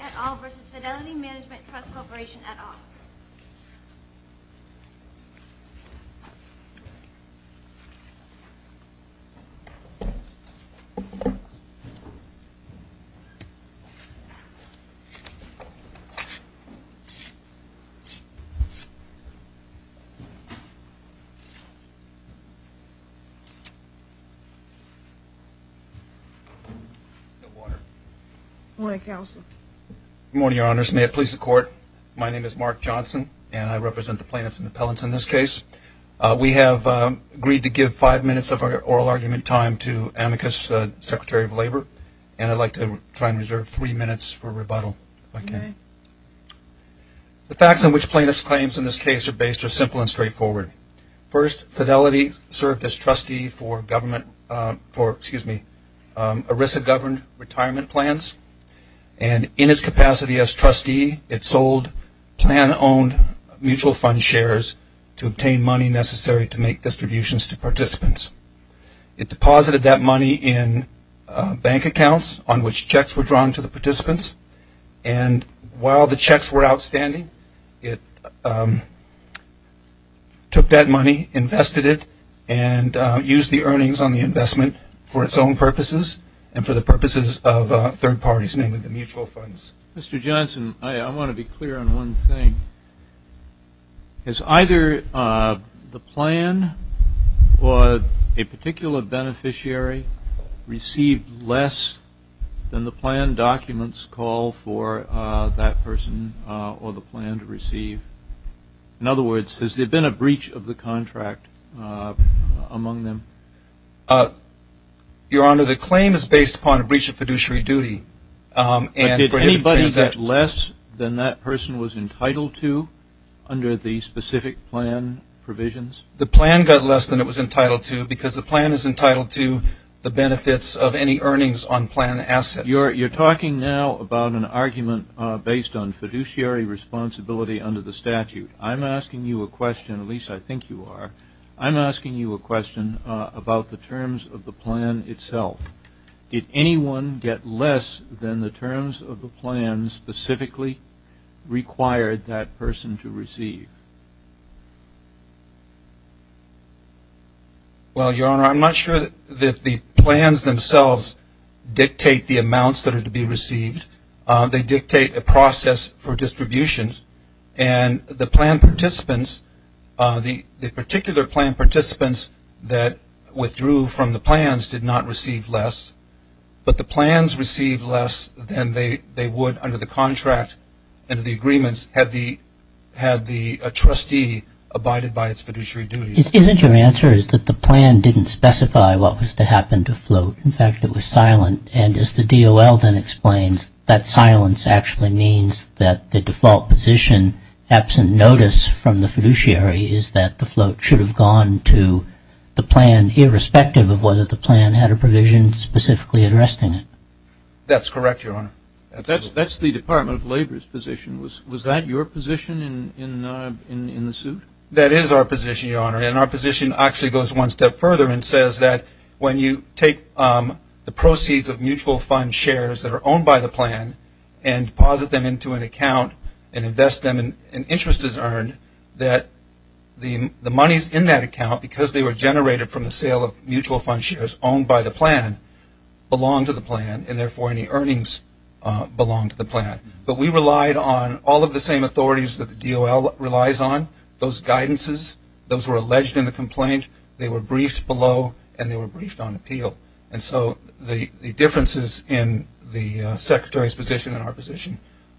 at all v. Fidelity Mgmt. Trust Co. at all. Good morning. Good morning, Counsel. Good morning, Your Honors. May it please the Court, my name is Mark Johnson, and I represent the plaintiffs and the appellants in this case. We have agreed to give five minutes of our oral argument time to Amicus, the Secretary of Labor, and I'd like to try and reserve three minutes for rebuttal, if I can. The facts on which plaintiffs' claims in this case are based are simple and straightforward. First, Fidelity served as trustee for government for, excuse me, ERISA-governed retirement plans, and in its capacity as trustee, it sold plan-owned mutual fund shares to obtain money necessary to make distributions to participants. It deposited that money in bank accounts on which checks were drawn to the participants, and while the checks were outstanding, it took that money, invested it, and used the earnings on the investment for its own purposes and for the purposes of third parties, namely the mutual funds. Mr. Johnson, I want to be clear on one thing. Has either the plan or a particular beneficiary received less than the plan documents call for that person or the plan to receive? In other words, has there been a breach of the contract among them? Your Honor, the claim is based upon a breach of fiduciary duty. But did anybody get less than that person was entitled to under the specific plan provisions? The plan got less than it was entitled to because the plan is entitled to the benefits of any earnings on plan assets. You're talking now about an argument based on fiduciary responsibility under the statute. I'm asking you a question, at least I think you are, I'm asking you a question about the terms of the plan itself. Did anyone get less than the terms of the plan specifically required that person to receive? Well, Your Honor, I'm not sure that the plans themselves dictate the amounts that are to be received. They dictate a process for distribution, and the plan participants, the particular plan participants that withdrew from the plans did not receive less. But the plans received less than they would under the contract and the agreements had the trustee abided by its fiduciary duties. Isn't your answer is that the plan didn't specify what was to happen to float? In fact, it was silent. And as the DOL then explains, that silence actually means that the default position, absent notice from the fiduciary is that the float should have gone to the plan, irrespective of whether the plan had a provision specifically addressing it. That's correct, Your Honor. That's the Department of Labor's position. Was that your position in the suit? That is our position, Your Honor. And our position actually goes one step further and says that when you take the proceeds of mutual fund shares that are owned by the plan and deposit them into an account and invest them in interest as earned, that the monies in that account, because they were generated from the sale of mutual fund shares owned by the plan, belong to the plan and, therefore, any earnings belong to the plan. But we relied on all of the same authorities that the DOL relies on, those guidances. Those were alleged in the complaint. They were briefed below, and they were briefed on appeal. And so the differences in the Secretary's position and our position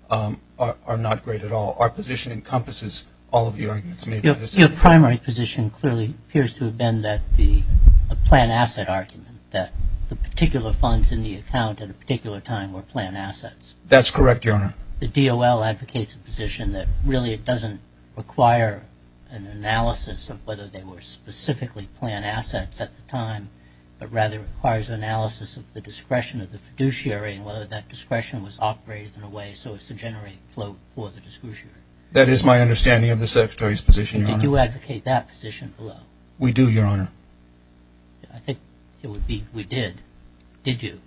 are not great at all. Our position encompasses all of the arguments made by the Secretary. Your primary position clearly appears to have been that the plan asset argument, that the particular funds in the account at a particular time were plan assets. That's correct, Your Honor. The DOL advocates a position that really it doesn't require an analysis of whether they were specifically plan assets at the time, but rather requires an analysis of the discretion of the fiduciary and whether that discretion was operated in a way so as to generate flow for the fiduciary. That is my understanding of the Secretary's position, Your Honor. Did you advocate that position below? We do, Your Honor. I think it would be we did. Did you?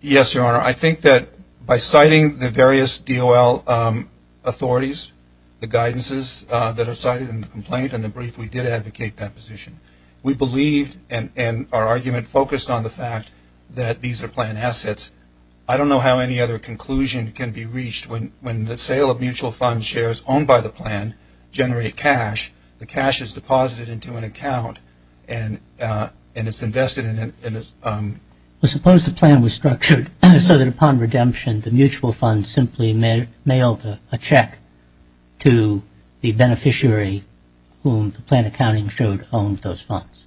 Yes, Your Honor. I think that by citing the various DOL authorities, the guidances that are cited in the complaint and the brief, we did advocate that position. We believed and our argument focused on the fact that these are plan assets. I don't know how any other conclusion can be reached. When the sale of mutual fund shares owned by the plan generate cash, the cash is deposited into an account and it's invested in a ______. Suppose the plan was structured so that upon redemption, the mutual fund simply mailed a check to the beneficiary whom the plan accounting showed owned those funds.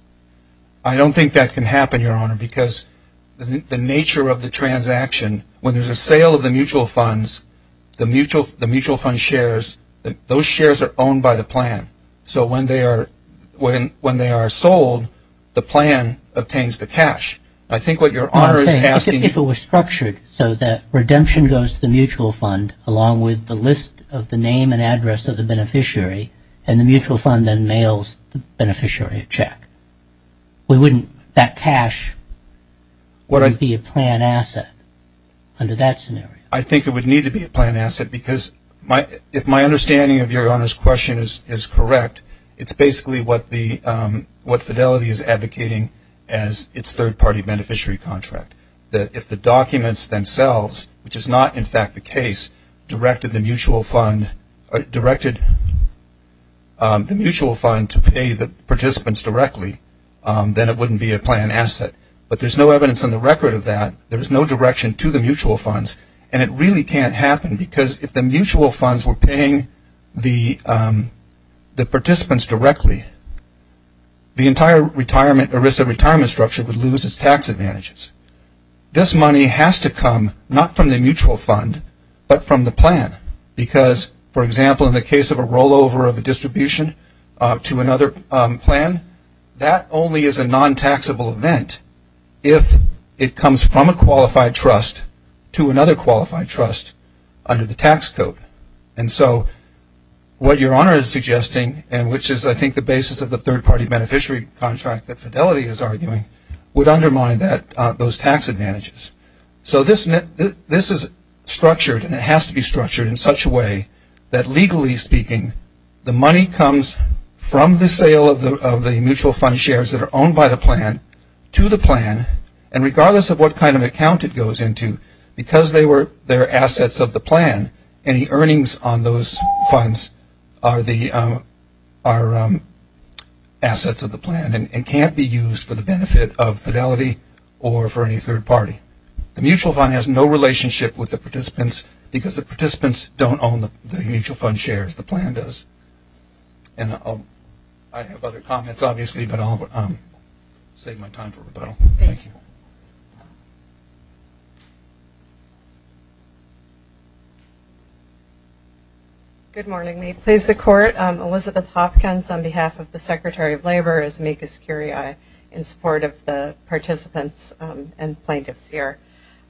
I don't think that can happen, Your Honor, because the nature of the transaction, when there's a sale of the mutual funds, the mutual fund shares, those shares are owned by the plan. So when they are sold, the plan obtains the cash. I think what Your Honor is asking ______. If it was structured so that redemption goes to the mutual fund along with the list of the name and address of the beneficiary and the mutual fund then mails the beneficiary a check, wouldn't that cash be a plan asset under that scenario? I think it would need to be a plan asset because if my understanding of Your Honor's question is correct, it's basically what Fidelity is advocating as its third-party beneficiary contract. If the documents themselves, which is not in fact the case, directed the mutual fund to pay the participants directly, then it wouldn't be a plan asset. But there's no evidence on the record of that. There's no direction to the mutual funds. And it really can't happen because if the mutual funds were paying the participants directly, the entire ERISA retirement structure would lose its tax advantages. This money has to come not from the mutual fund but from the plan because, for example, in the case of a rollover of a distribution to another plan, that only is a non-taxable event. If it comes from a qualified trust to another qualified trust under the tax code. And so what Your Honor is suggesting, and which is I think the basis of the third-party beneficiary contract that Fidelity is arguing, would undermine those tax advantages. So this is structured and it has to be structured in such a way that legally speaking, the money comes from the sale of the mutual fund shares that are owned by the plan to the plan. And regardless of what kind of account it goes into, because they're assets of the plan, any earnings on those funds are assets of the plan and can't be used for the benefit of Fidelity or for any third party. Because the participants don't own the mutual fund shares. The plan does. And I have other comments, obviously, but I'll save my time for rebuttal. Thank you. Good morning. May it please the Court, Elizabeth Hopkins on behalf of the Secretary of Labor, as amicus curiae in support of the participants and plaintiffs here.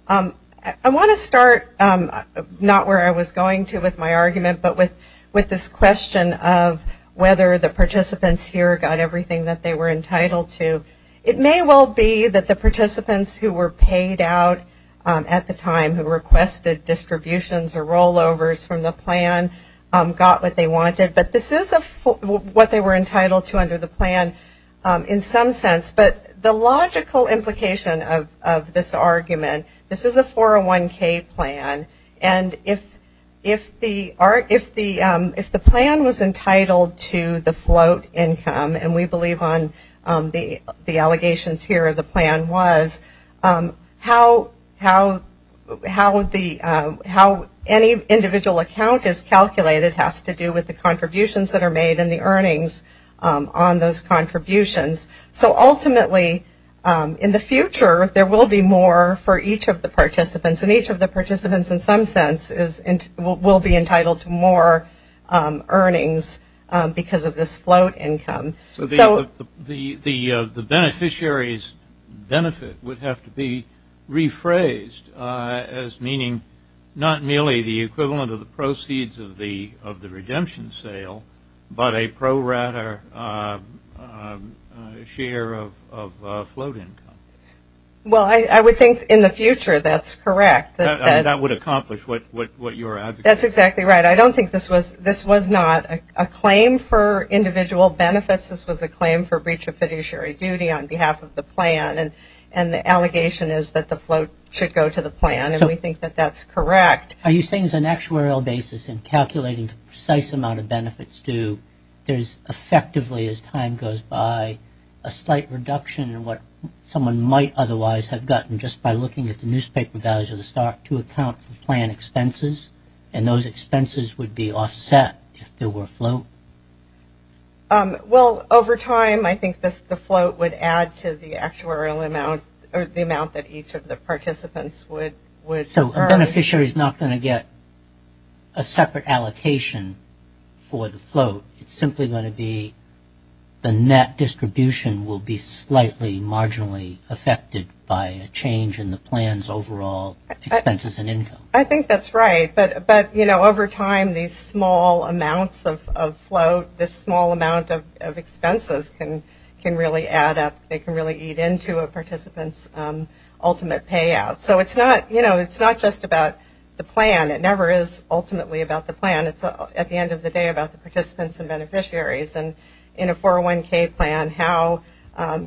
I want to start not where I was going to with my argument, but with this question of whether the participants here got everything that they were entitled to. It may well be that the participants who were paid out at the time, who requested distributions or rollovers from the plan, got what they wanted. But this is what they were entitled to under the plan in some sense. But the logical implication of this argument, this is a 401K plan, and if the plan was entitled to the float income, and we believe on the allegations here the plan was, how any individual account is calculated has to do with the contributions that are made and the earnings on those contributions. So ultimately in the future there will be more for each of the participants, and each of the participants in some sense will be entitled to more earnings because of this float income. So the beneficiary's benefit would have to be rephrased as meaning not merely the equivalent of the proceeds of the share of float income. Well, I would think in the future that's correct. That would accomplish what you were advocating. That's exactly right. I don't think this was not a claim for individual benefits. This was a claim for breach of fiduciary duty on behalf of the plan, and the allegation is that the float should go to the plan, and we think that that's correct. Are you saying as an actuarial basis in calculating the precise amount of benefits due, there's effectively as time goes by a slight reduction in what someone might otherwise have gotten just by looking at the newspaper values of the stock to account for plan expenses, and those expenses would be offset if there were float? Well, over time I think the float would add to the actuarial amount or the amount that each of the participants would earn. So a beneficiary's not going to get a separate allocation for the float. It's simply going to be the net distribution will be slightly marginally affected by a change in the plan's overall expenses and income. I think that's right, but, you know, over time these small amounts of float, this small amount of expenses can really add up. They can really eat into a participant's ultimate payout. So it's not, you know, it's not just about the plan. It never is ultimately about the plan. It's at the end of the day about the participants and beneficiaries. And in a 401K plan how,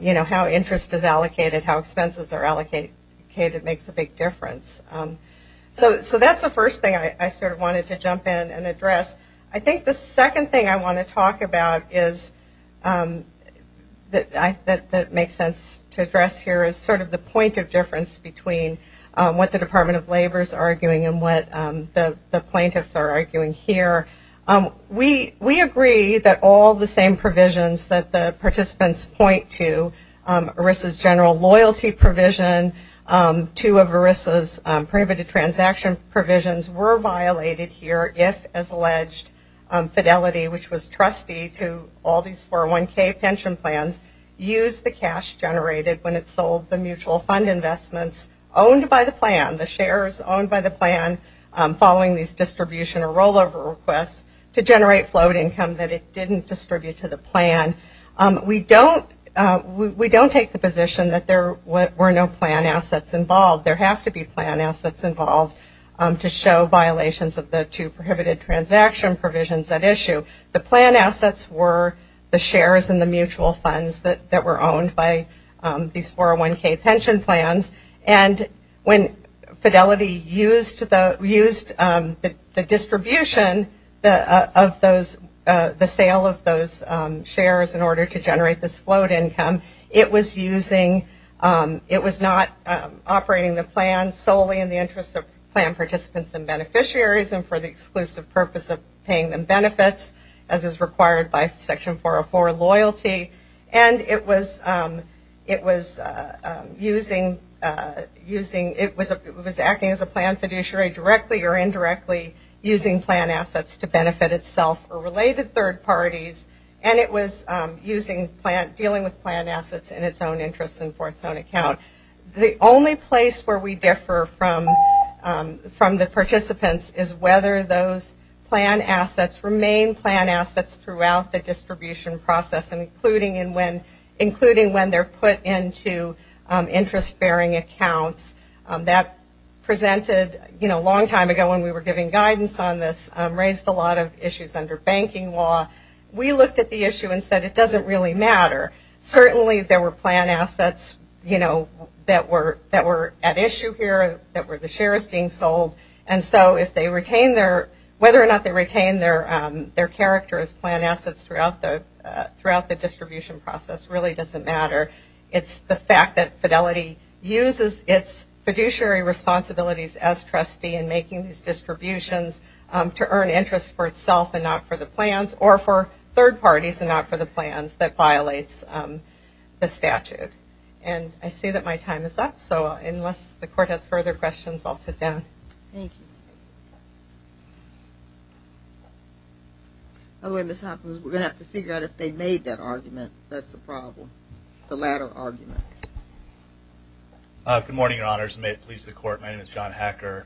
you know, how interest is allocated, how expenses are allocated makes a big difference. So that's the first thing I sort of wanted to jump in and address. I think the second thing I want to talk about is that makes sense to address here is sort of the point of difference between what the We agree that all the same provisions that the participants point to, ERISA's general loyalty provision, two of ERISA's prohibited transaction provisions were violated here if, as alleged, Fidelity, which was trustee to all these 401K pension plans, used the cash generated when it sold the mutual fund investments owned by the plan, the shares owned by the plan following these distribution or rollover requests, to generate float income that it didn't distribute to the plan. We don't take the position that there were no plan assets involved. There have to be plan assets involved to show violations of the two prohibited transaction provisions at issue. The plan assets were the shares and the mutual funds that were owned by these 401K pension plans. And when Fidelity used the distribution of those, the sale of those shares in order to generate this float income, it was using, it was not operating the plan solely in the interest of plan participants and beneficiaries and for the exclusive purpose of paying them benefits as is required by Section 404 loyalty. And it was using, it was acting as a plan fiduciary directly or indirectly using plan assets to benefit itself or related third parties. And it was using plan, dealing with plan assets in its own interest and for its own account. The only place where we differ from the participants is whether those plan assets remain plan assets throughout the distribution process, including when they're put into interest bearing accounts. That presented, you know, a long time ago when we were giving guidance on this, raised a lot of issues under banking law. We looked at the issue and said it doesn't really matter. Certainly there were plan assets, you know, that were at issue here, that were the shares being sold. And so if they retain their, whether or not they retain their character as plan assets throughout the distribution process really doesn't matter. It's the fact that Fidelity uses its fiduciary responsibilities as trustee in making these distributions to earn interest for itself and not for the plans or for third parties and not for the plans that violates the statute. And I see that my time is up. So unless the court has further questions, I'll sit down. Thank you. We're going to have to figure out if they made that argument. That's the problem, the latter argument. Good morning, Your Honors. May it please the court. My name is John Hacker,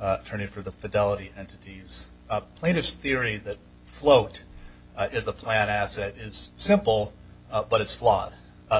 attorney for the Fidelity entities. Plaintiff's theory that float is a plan asset is simple, but it's flawed.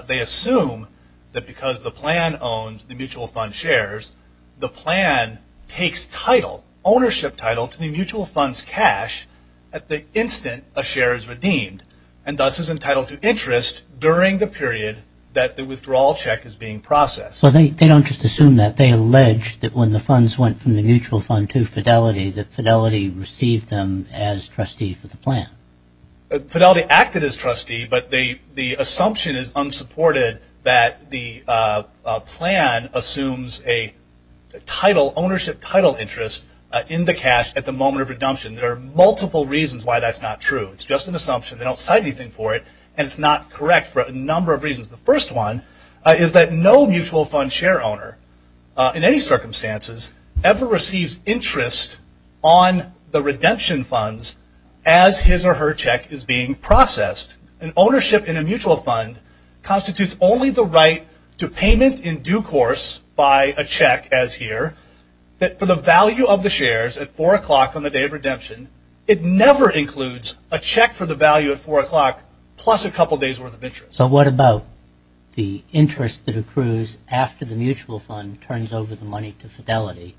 They assume that because the plan owns the mutual fund shares, the plan takes title, ownership title, to the mutual fund's cash at the instant a share is redeemed and thus is entitled to interest during the period that the withdrawal check is being processed. Well, they don't just assume that. They allege that when the funds went from the mutual fund to Fidelity that Fidelity received them as trustee for the plan. Fidelity acted as trustee, but the assumption is unsupported that the plan assumes a title, ownership title, interest in the cash at the moment of redemption. There are multiple reasons why that's not true. It's just an assumption. They don't cite anything for it, and it's not correct for a number of reasons. The first one is that no mutual fund share owner, in any circumstances, ever receives interest on the redemption funds as his or her check is being processed. Ownership in a mutual fund constitutes only the right to payment in due course by a check, as here, for the value of the shares at 4 o'clock on the day of redemption. It never includes a check for the value at 4 o'clock plus a couple days' worth of interest. So what about the interest that accrues after the mutual fund turns over the money to Fidelity?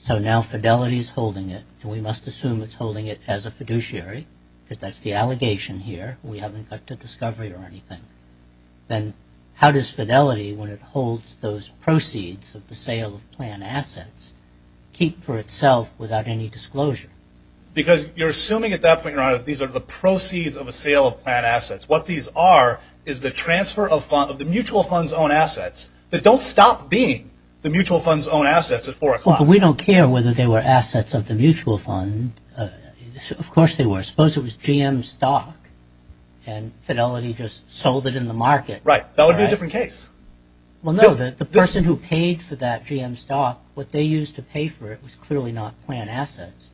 So now Fidelity is holding it, and we must assume it's holding it as a fiduciary, because that's the allegation here. We haven't got to discovery or anything. Then how does Fidelity, when it holds those proceeds of the sale of plan assets, keep for itself without any disclosure? Because you're assuming at that point in time that these are the proceeds of a sale of plan assets. What these are is the transfer of the mutual fund's own assets that don't stop being the mutual fund's own assets at 4 o'clock. But we don't care whether they were assets of the mutual fund. Of course they were. Suppose it was GM stock, and Fidelity just sold it in the market. Right. That would be a different case. Well, no, the person who paid for that GM stock, what they used to pay for it was clearly not plan assets.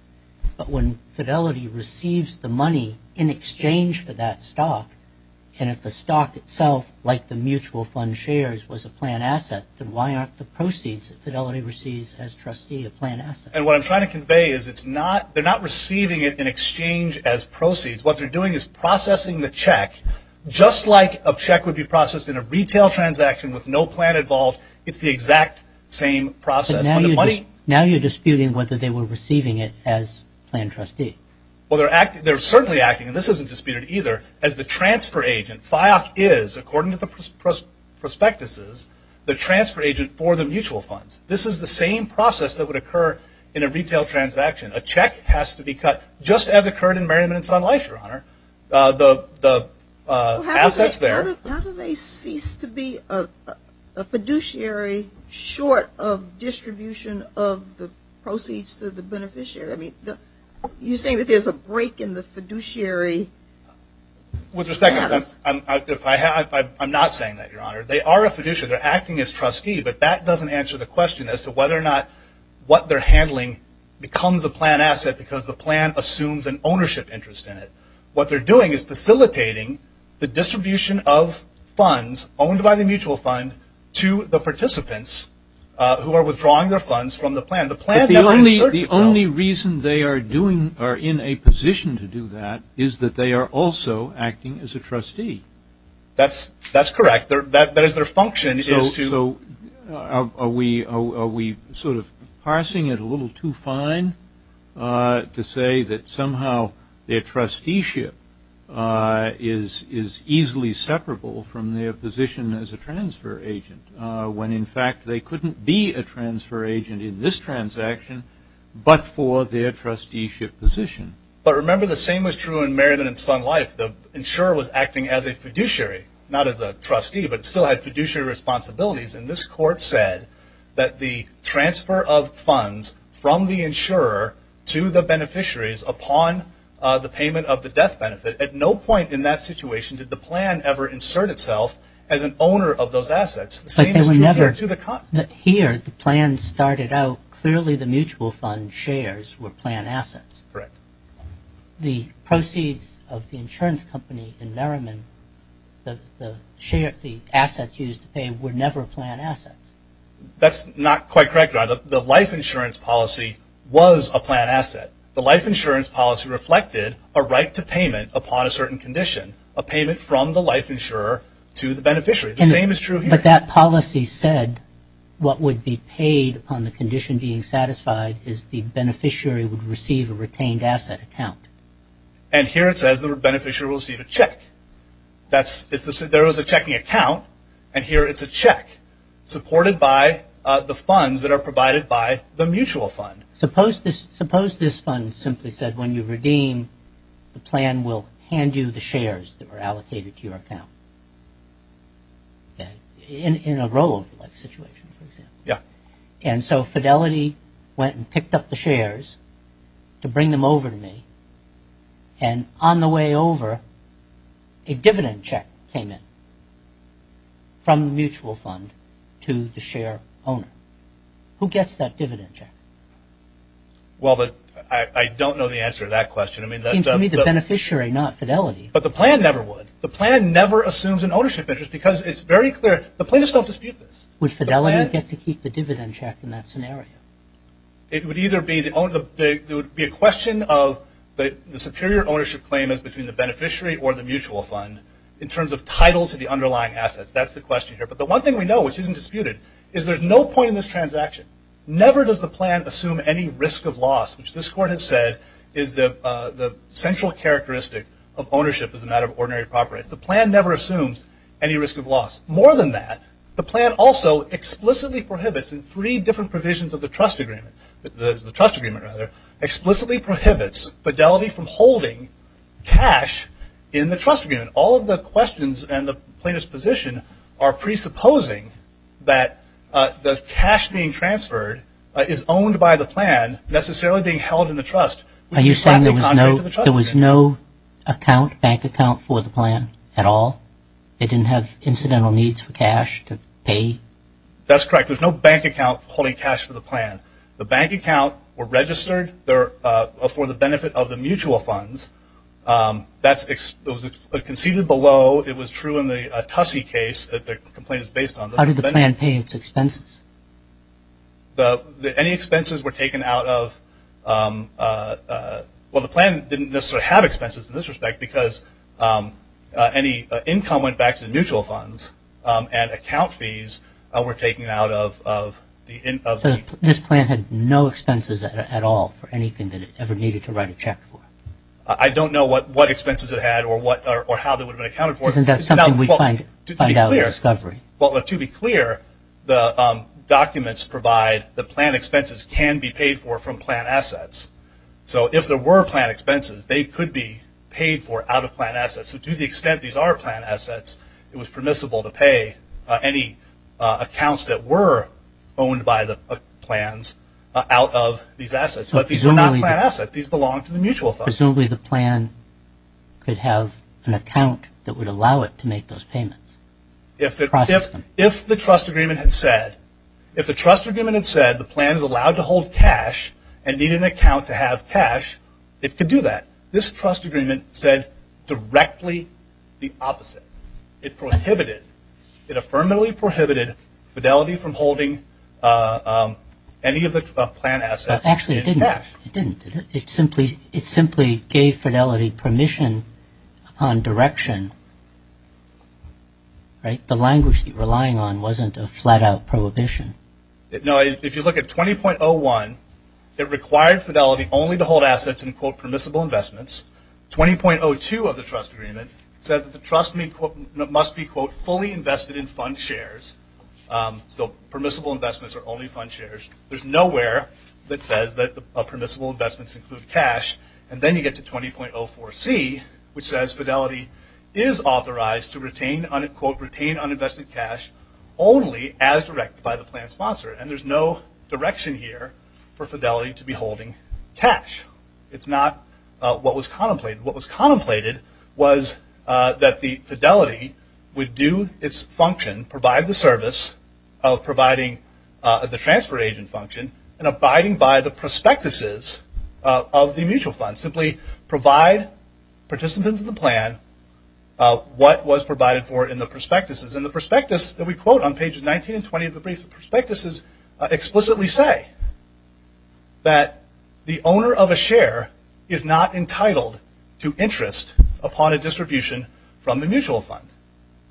But when Fidelity receives the money in exchange for that stock, and if the stock itself, like the mutual fund shares, was a plan asset, then why aren't the proceeds that Fidelity receives as trustee a plan asset? And what I'm trying to convey is they're not receiving it in exchange as proceeds. What they're doing is processing the check just like a check would be processed in a retail transaction with no plan involved. It's the exact same process. Now you're disputing whether they were receiving it as plan trustee. Well, they're certainly acting, and this isn't disputed either, as the transfer agent. FIOC is, according to the prospectuses, the transfer agent for the mutual funds. This is the same process that would occur in a retail transaction. A check has to be cut just as occurred in Merriman & Son Life, Your Honor. The assets there. How do they cease to be a fiduciary short of distribution of the proceeds to the beneficiary? I mean, you're saying that there's a break in the fiduciary status. I'm not saying that, Your Honor. They are a fiduciary. They're acting as trustee, but that doesn't answer the question as to whether or not what they're handling becomes a plan asset because the plan assumes an ownership interest in it. What they're doing is facilitating the distribution of funds owned by the mutual fund to the participants who are withdrawing their funds from the plan. The plan never inserts itself. But the only reason they are in a position to do that is that they are also acting as a trustee. That's correct. So are we sort of parsing it a little too fine to say that somehow their trusteeship is easily separable from their position as a transfer agent when, in fact, they couldn't be a transfer agent in this transaction but for their trusteeship position? But remember the same was true in Merriman & Son Life. The insurer was acting as a fiduciary, not as a trustee, but still had fiduciary responsibilities, and this court said that the transfer of funds from the insurer to the beneficiaries upon the payment of the death benefit, at no point in that situation did the plan ever insert itself as an owner of those assets. The same is true here to the contrary. But here the plan started out clearly the mutual fund shares were plan assets. Correct. The proceeds of the insurance company in Merriman, the assets used to pay, were never plan assets. That's not quite correct. The life insurance policy was a plan asset. The life insurance policy reflected a right to payment upon a certain condition, a payment from the life insurer to the beneficiary. The same is true here. But that policy said what would be paid upon the condition being satisfied is the beneficiary would receive a retained asset account. And here it says the beneficiary will receive a check. There is a checking account, and here it's a check supported by the funds that are provided by the mutual fund. Suppose this fund simply said when you redeem, the plan will hand you the shares that were allocated to your account, in a rollover-like situation, for example. Yeah. And so Fidelity went and picked up the shares to bring them over to me, and on the way over a dividend check came in from the mutual fund to the share owner. Who gets that dividend check? Well, I don't know the answer to that question. It seems to me the beneficiary, not Fidelity. But the plan never would. The plan never assumes an ownership interest because it's very clear. The plan does not dispute this. Would Fidelity get to keep the dividend check in that scenario? It would either be a question of the superior ownership claim is between the beneficiary or the mutual fund, in terms of title to the underlying assets. That's the question here. But the one thing we know which isn't disputed is there's no point in this transaction. Never does the plan assume any risk of loss, which this Court has said is the central characteristic of ownership as a matter of ordinary property. The plan never assumes any risk of loss. More than that, the plan also explicitly prohibits in three different provisions of the trust agreement, the trust agreement rather, explicitly prohibits Fidelity from holding cash in the trust agreement. All of the questions and the plaintiff's position are presupposing that the cash being transferred is owned by the plan, necessarily being held in the trust. Are you saying there was no bank account for the plan at all? It didn't have incidental needs for cash to pay? That's correct. There's no bank account holding cash for the plan. The bank account were registered for the benefit of the mutual funds. That's conceded below. It was true in the Tussey case that the complaint is based on. How did the plan pay its expenses? Any expenses were taken out of – well, the plan didn't necessarily have expenses in this respect because any income went back to the mutual funds and account fees were taken out of the – This plan had no expenses at all for anything that it ever needed to write a check for? I don't know what expenses it had or how they would have been accounted for. Isn't that something we find out in the discovery? Well, to be clear, the documents provide the plan expenses can be paid for from plan assets. So if there were plan expenses, they could be paid for out of plan assets. So to the extent these are plan assets, it was permissible to pay any accounts that were owned by the plans out of these assets. But these are not plan assets. These belong to the mutual funds. Presumably the plan could have an account that would allow it to make those payments. If the trust agreement had said the plan is allowed to hold cash and need an account to have cash, it could do that. This trust agreement said directly the opposite. It prohibited – it affirmatively prohibited fidelity from holding any of the plan assets in cash. Actually, it didn't. It didn't, did it? It simply gave fidelity permission on direction, right? The language you're relying on wasn't a flat-out prohibition. If you look at 20.01, it required fidelity only to hold assets in, quote, permissible investments. 20.02 of the trust agreement said that the trust must be, quote, fully invested in fund shares. So permissible investments are only fund shares. There's nowhere that says that permissible investments include cash. And then you get to 20.04c, which says fidelity is authorized to retain, quote, retain uninvested cash only as directed by the plan sponsor. And there's no direction here for fidelity to be holding cash. It's not what was contemplated. What was contemplated was that the fidelity would do its function, provide the service of providing the transfer agent function, and abiding by the prospectuses of the mutual fund, simply provide participants in the plan what was provided for in the prospectuses. And the prospectuses that we quote on pages 19 and 20 of the brief prospectuses explicitly say that the owner of a share is not entitled to interest upon a distribution from the mutual fund.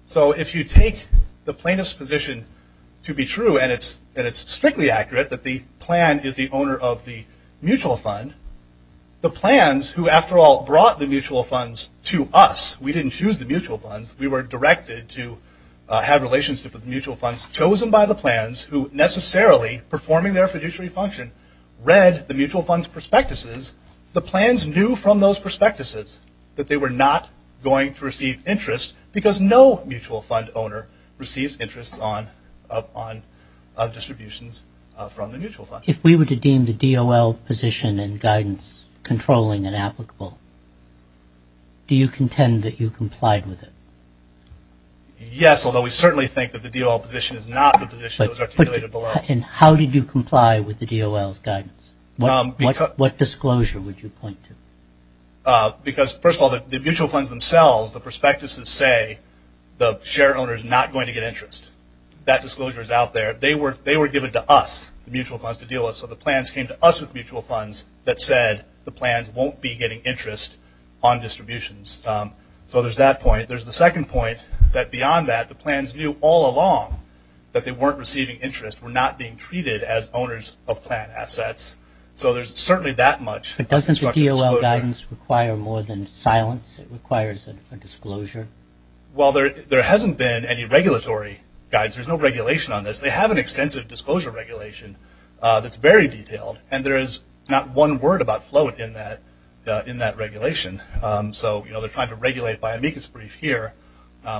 So if you take the plaintiff's position to be true, and it's strictly accurate that the plan is the owner of the mutual fund, the plans who, after all, brought the mutual funds to us, we didn't choose the mutual funds, we were directed to have relationships with the mutual funds chosen by the plans who necessarily performing their fiduciary function read the mutual fund's prospectuses, the plans knew from those prospectuses that they were not going to receive interest because no mutual fund owner receives interest on distributions from the mutual fund. If we were to deem the DOL position and guidance controlling and applicable, do you contend that you complied with it? Yes, although we certainly think that the DOL position is not the position articulated below. And how did you comply with the DOL's guidance? What disclosure would you point to? Because, first of all, the mutual funds themselves, the prospectuses say, the shareholder is not going to get interest. That disclosure is out there. They were given to us, the mutual funds to deal with, so the plans came to us with mutual funds that said the plans won't be getting interest on distributions. So there's that point. There's the second point, that beyond that, the plans knew all along that they weren't receiving interest, were not being treated as owners of plan assets. So there's certainly that much. But doesn't the DOL guidance require more than silence? It requires a disclosure. Well, there hasn't been any regulatory guidance. There's no regulation on this. They have an extensive disclosure regulation that's very detailed, and there is not one word about float in that regulation. So, you know, they're trying to regulate by amicus brief here,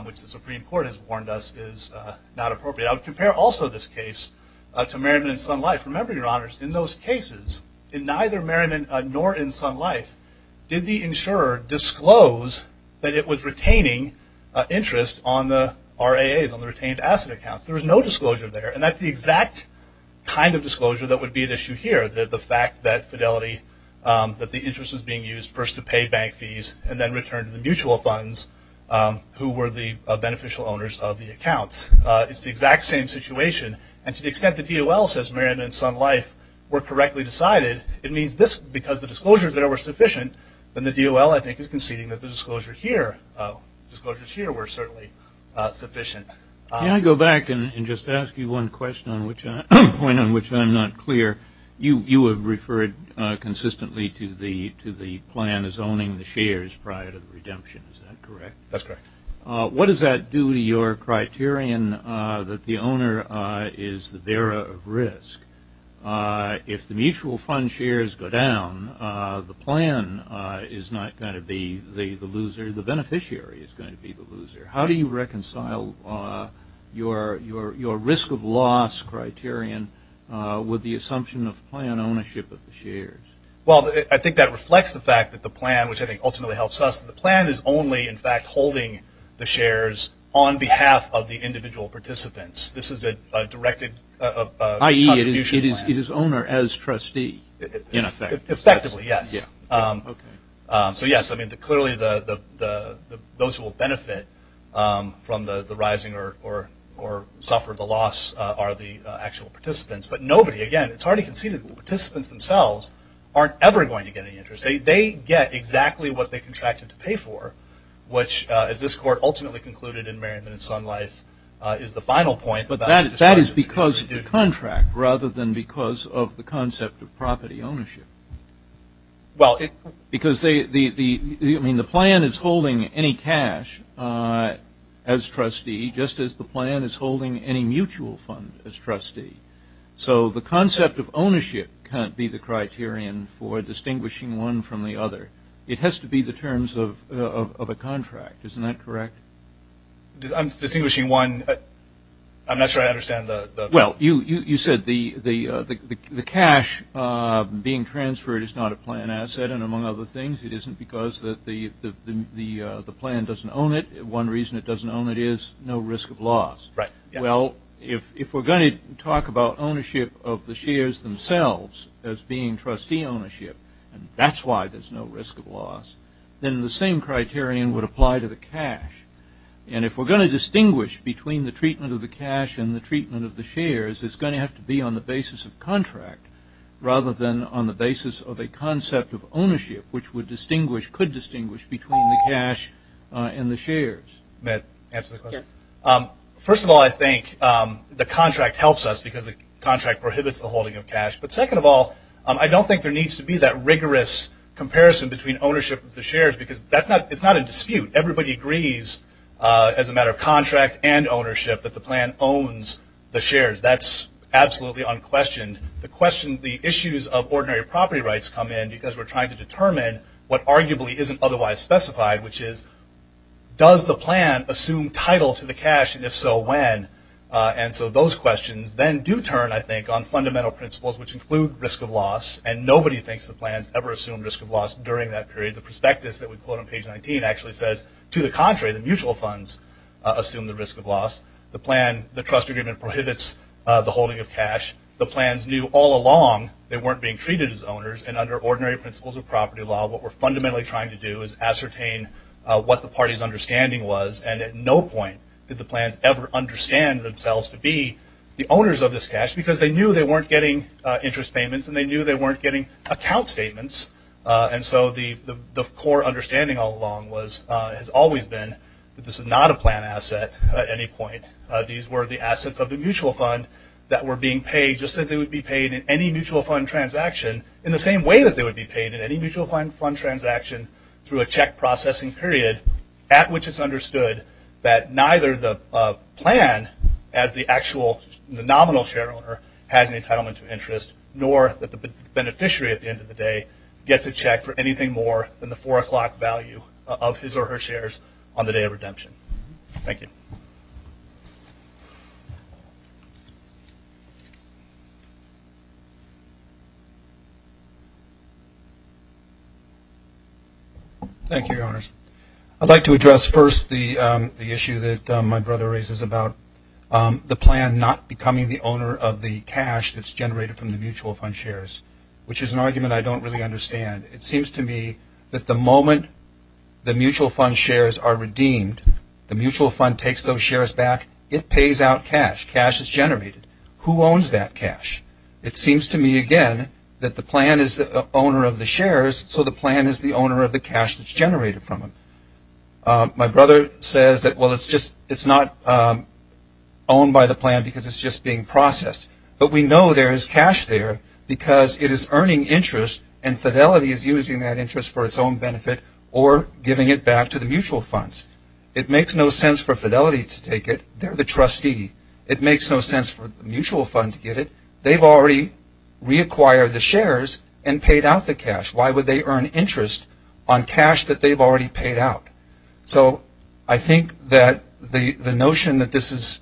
which the Supreme Court has warned us is not appropriate. I would compare also this case to Merriman and Sun Life. Remember, Your Honors, in those cases, in neither Merriman nor in Sun Life, did the insurer disclose that it was retaining interest on the RAAs, on the retained asset accounts. There was no disclosure there, and that's the exact kind of disclosure that would be at issue here, the fact that Fidelity, that the interest was being used first to pay bank fees and then return to the mutual funds who were the beneficial owners of the accounts. It's the exact same situation, and to the extent the DOL says Merriman and Sun Life were correctly decided, it means because the disclosures there were sufficient, then the DOL, I think, is conceding that the disclosures here were certainly sufficient. Can I go back and just ask you one point on which I'm not clear? You have referred consistently to the plan as owning the shares prior to the redemption. Is that correct? That's correct. What does that do to your criterion that the owner is the bearer of risk? If the mutual fund shares go down, the plan is not going to be the loser. The beneficiary is going to be the loser. How do you reconcile your risk of loss criterion with the assumption of plan ownership of the shares? Well, I think that reflects the fact that the plan, which I think ultimately helps us, the plan is only, in fact, holding the shares on behalf of the individual participants. This is a directed contribution plan. I.e., it is owner as trustee, in effect. Effectively, yes. So, yes, I mean, clearly those who will benefit from the rising or suffer the loss are the actual participants. But nobody, again, it's already conceded, the participants themselves aren't ever going to get any interest. They get exactly what they contracted to pay for, which, as this Court ultimately concluded in Merriman and Sun Life, is the final point. But that is because of the contract rather than because of the concept of property ownership. Because the plan is holding any cash as trustee just as the plan is holding any mutual fund as trustee. So the concept of ownership can't be the criterion for distinguishing one from the other. It has to be the terms of a contract. Isn't that correct? I'm distinguishing one. I'm not sure I understand the – Well, you said the cash being transferred is not a plan asset. And among other things, it isn't because the plan doesn't own it. One reason it doesn't own it is no risk of loss. Right, yes. Well, if we're going to talk about ownership of the shares themselves as being trustee ownership, and that's why there's no risk of loss, then the same criterion would apply to the cash. And if we're going to distinguish between the treatment of the cash and the treatment of the shares, it's going to have to be on the basis of contract rather than on the basis of a concept of ownership, which could distinguish between the cash and the shares. Matt, answer the question. First of all, I think the contract helps us because the contract prohibits the holding of cash. But second of all, I don't think there needs to be that rigorous comparison between ownership of the shares because it's not a dispute. Everybody agrees as a matter of contract and ownership that the plan owns the shares. That's absolutely unquestioned. The issues of ordinary property rights come in because we're trying to determine what arguably isn't otherwise specified, which is does the plan assume title to the cash, and if so, when? And so those questions then do turn, I think, on fundamental principles, which include risk of loss, and nobody thinks the plans ever assume risk of loss during that period. The prospectus that we quote on page 19 actually says, to the contrary, the mutual funds assume the risk of loss. The trust agreement prohibits the holding of cash. The plans knew all along they weren't being treated as owners, and under ordinary principles of property law what we're fundamentally trying to do is ascertain what the party's understanding was, and at no point did the plans ever understand themselves to be the owners of this cash because they knew they weren't getting interest payments and they knew they weren't getting account statements. And so the core understanding all along has always been that this is not a plan asset at any point. These were the assets of the mutual fund that were being paid just as they would be paid in any mutual fund transaction in the same way that they would be paid in any mutual fund transaction through a check processing period at which it's understood that neither the plan as the actual nominal shareholder has an entitlement to interest nor that the beneficiary at the end of the day gets a check for anything more than the four o'clock value of his or her shares on the day of redemption. Thank you. Thank you, Your Honors. I'd like to address first the issue that my brother raises about the plan not becoming the owner of the cash that's generated from the mutual fund shares, which is an argument I don't really understand. It seems to me that the moment the mutual fund shares are redeemed, the mutual fund takes those shares back. It pays out cash. Cash is generated. Who owns that cash? It seems to me, again, that the plan is the owner of the shares, so the plan is the owner of the cash that's generated from them. My brother says that, well, it's not owned by the plan because it's just being processed. But we know there is cash there because it is earning interest and Fidelity is using that interest for its own benefit or giving it back to the mutual funds. It makes no sense for Fidelity to take it. They're the trustee. It makes no sense for the mutual fund to get it. They've already reacquired the shares and paid out the cash. Why would they earn interest on cash that they've already paid out? So I think that the notion that this is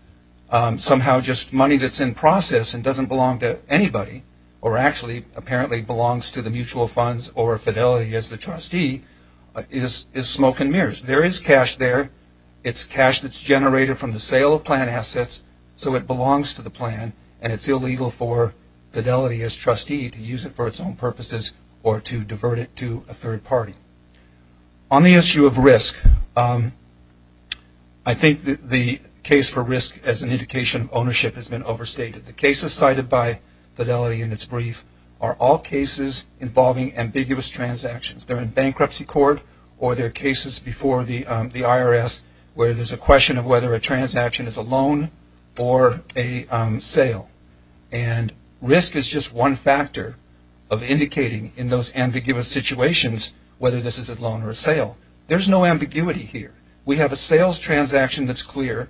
somehow just money that's in process and doesn't belong to anybody or actually apparently belongs to the mutual funds or Fidelity as the trustee is smoke and mirrors. There is cash there. It's cash that's generated from the sale of plan assets, so it belongs to the plan, and it's illegal for Fidelity as trustee to use it for its own purposes or to divert it to a third party. On the issue of risk, I think the case for risk as an indication of ownership has been overstated. The cases cited by Fidelity in its brief are all cases involving ambiguous transactions. They're in bankruptcy court or they're cases before the IRS where there's a question of whether a transaction is a loan or a sale. And risk is just one factor of indicating in those ambiguous situations whether this is a loan or a sale. There's no ambiguity here. We have a sales transaction that's clear.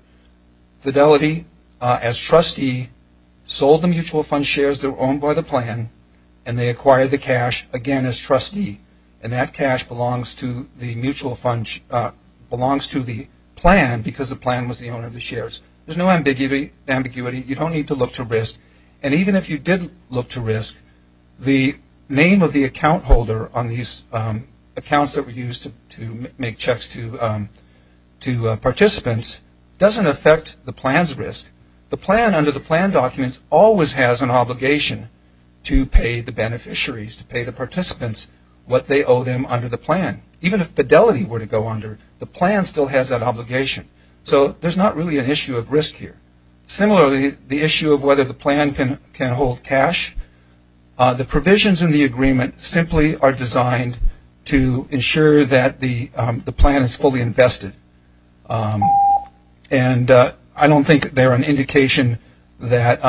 Fidelity as trustee sold the mutual fund shares that were owned by the plan and they acquired the cash again as trustee, and that cash belongs to the plan because the plan was the owner of the shares. There's no ambiguity. You don't need to look to risk. And even if you did look to risk, the name of the account holder on these accounts that were used to make checks to participants doesn't affect the plan's risk. The plan under the plan documents always has an obligation to pay the beneficiaries, to pay the participants what they owe them under the plan. Even if Fidelity were to go under, the plan still has that obligation. So there's not really an issue of risk here. Similarly, the issue of whether the plan can hold cash, the provisions in the agreement simply are designed to ensure that the plan is fully invested. And I don't think they're an indication that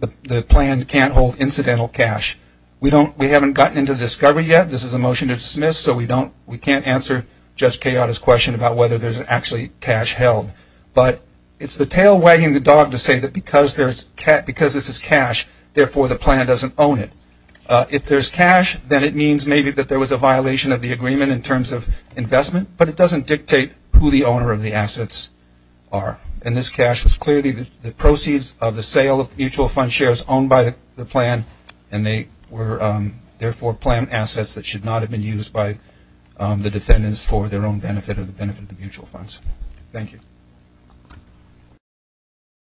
the plan can't hold incidental cash. We haven't gotten into the discovery yet. This is a motion to dismiss, so we can't answer Judge Kayotta's question about whether there's actually cash held. But it's the tail wagging the dog to say that because this is cash, therefore the plan doesn't own it. If there's cash, then it means maybe that there was a violation of the agreement in terms of investment, but it doesn't dictate who the owner of the assets are. And this cash was clearly the proceeds of the sale of mutual fund shares owned by the plan, and they were therefore planned assets that should not have been used by the defendants for their own benefit or the benefit of the mutual funds. Thank you.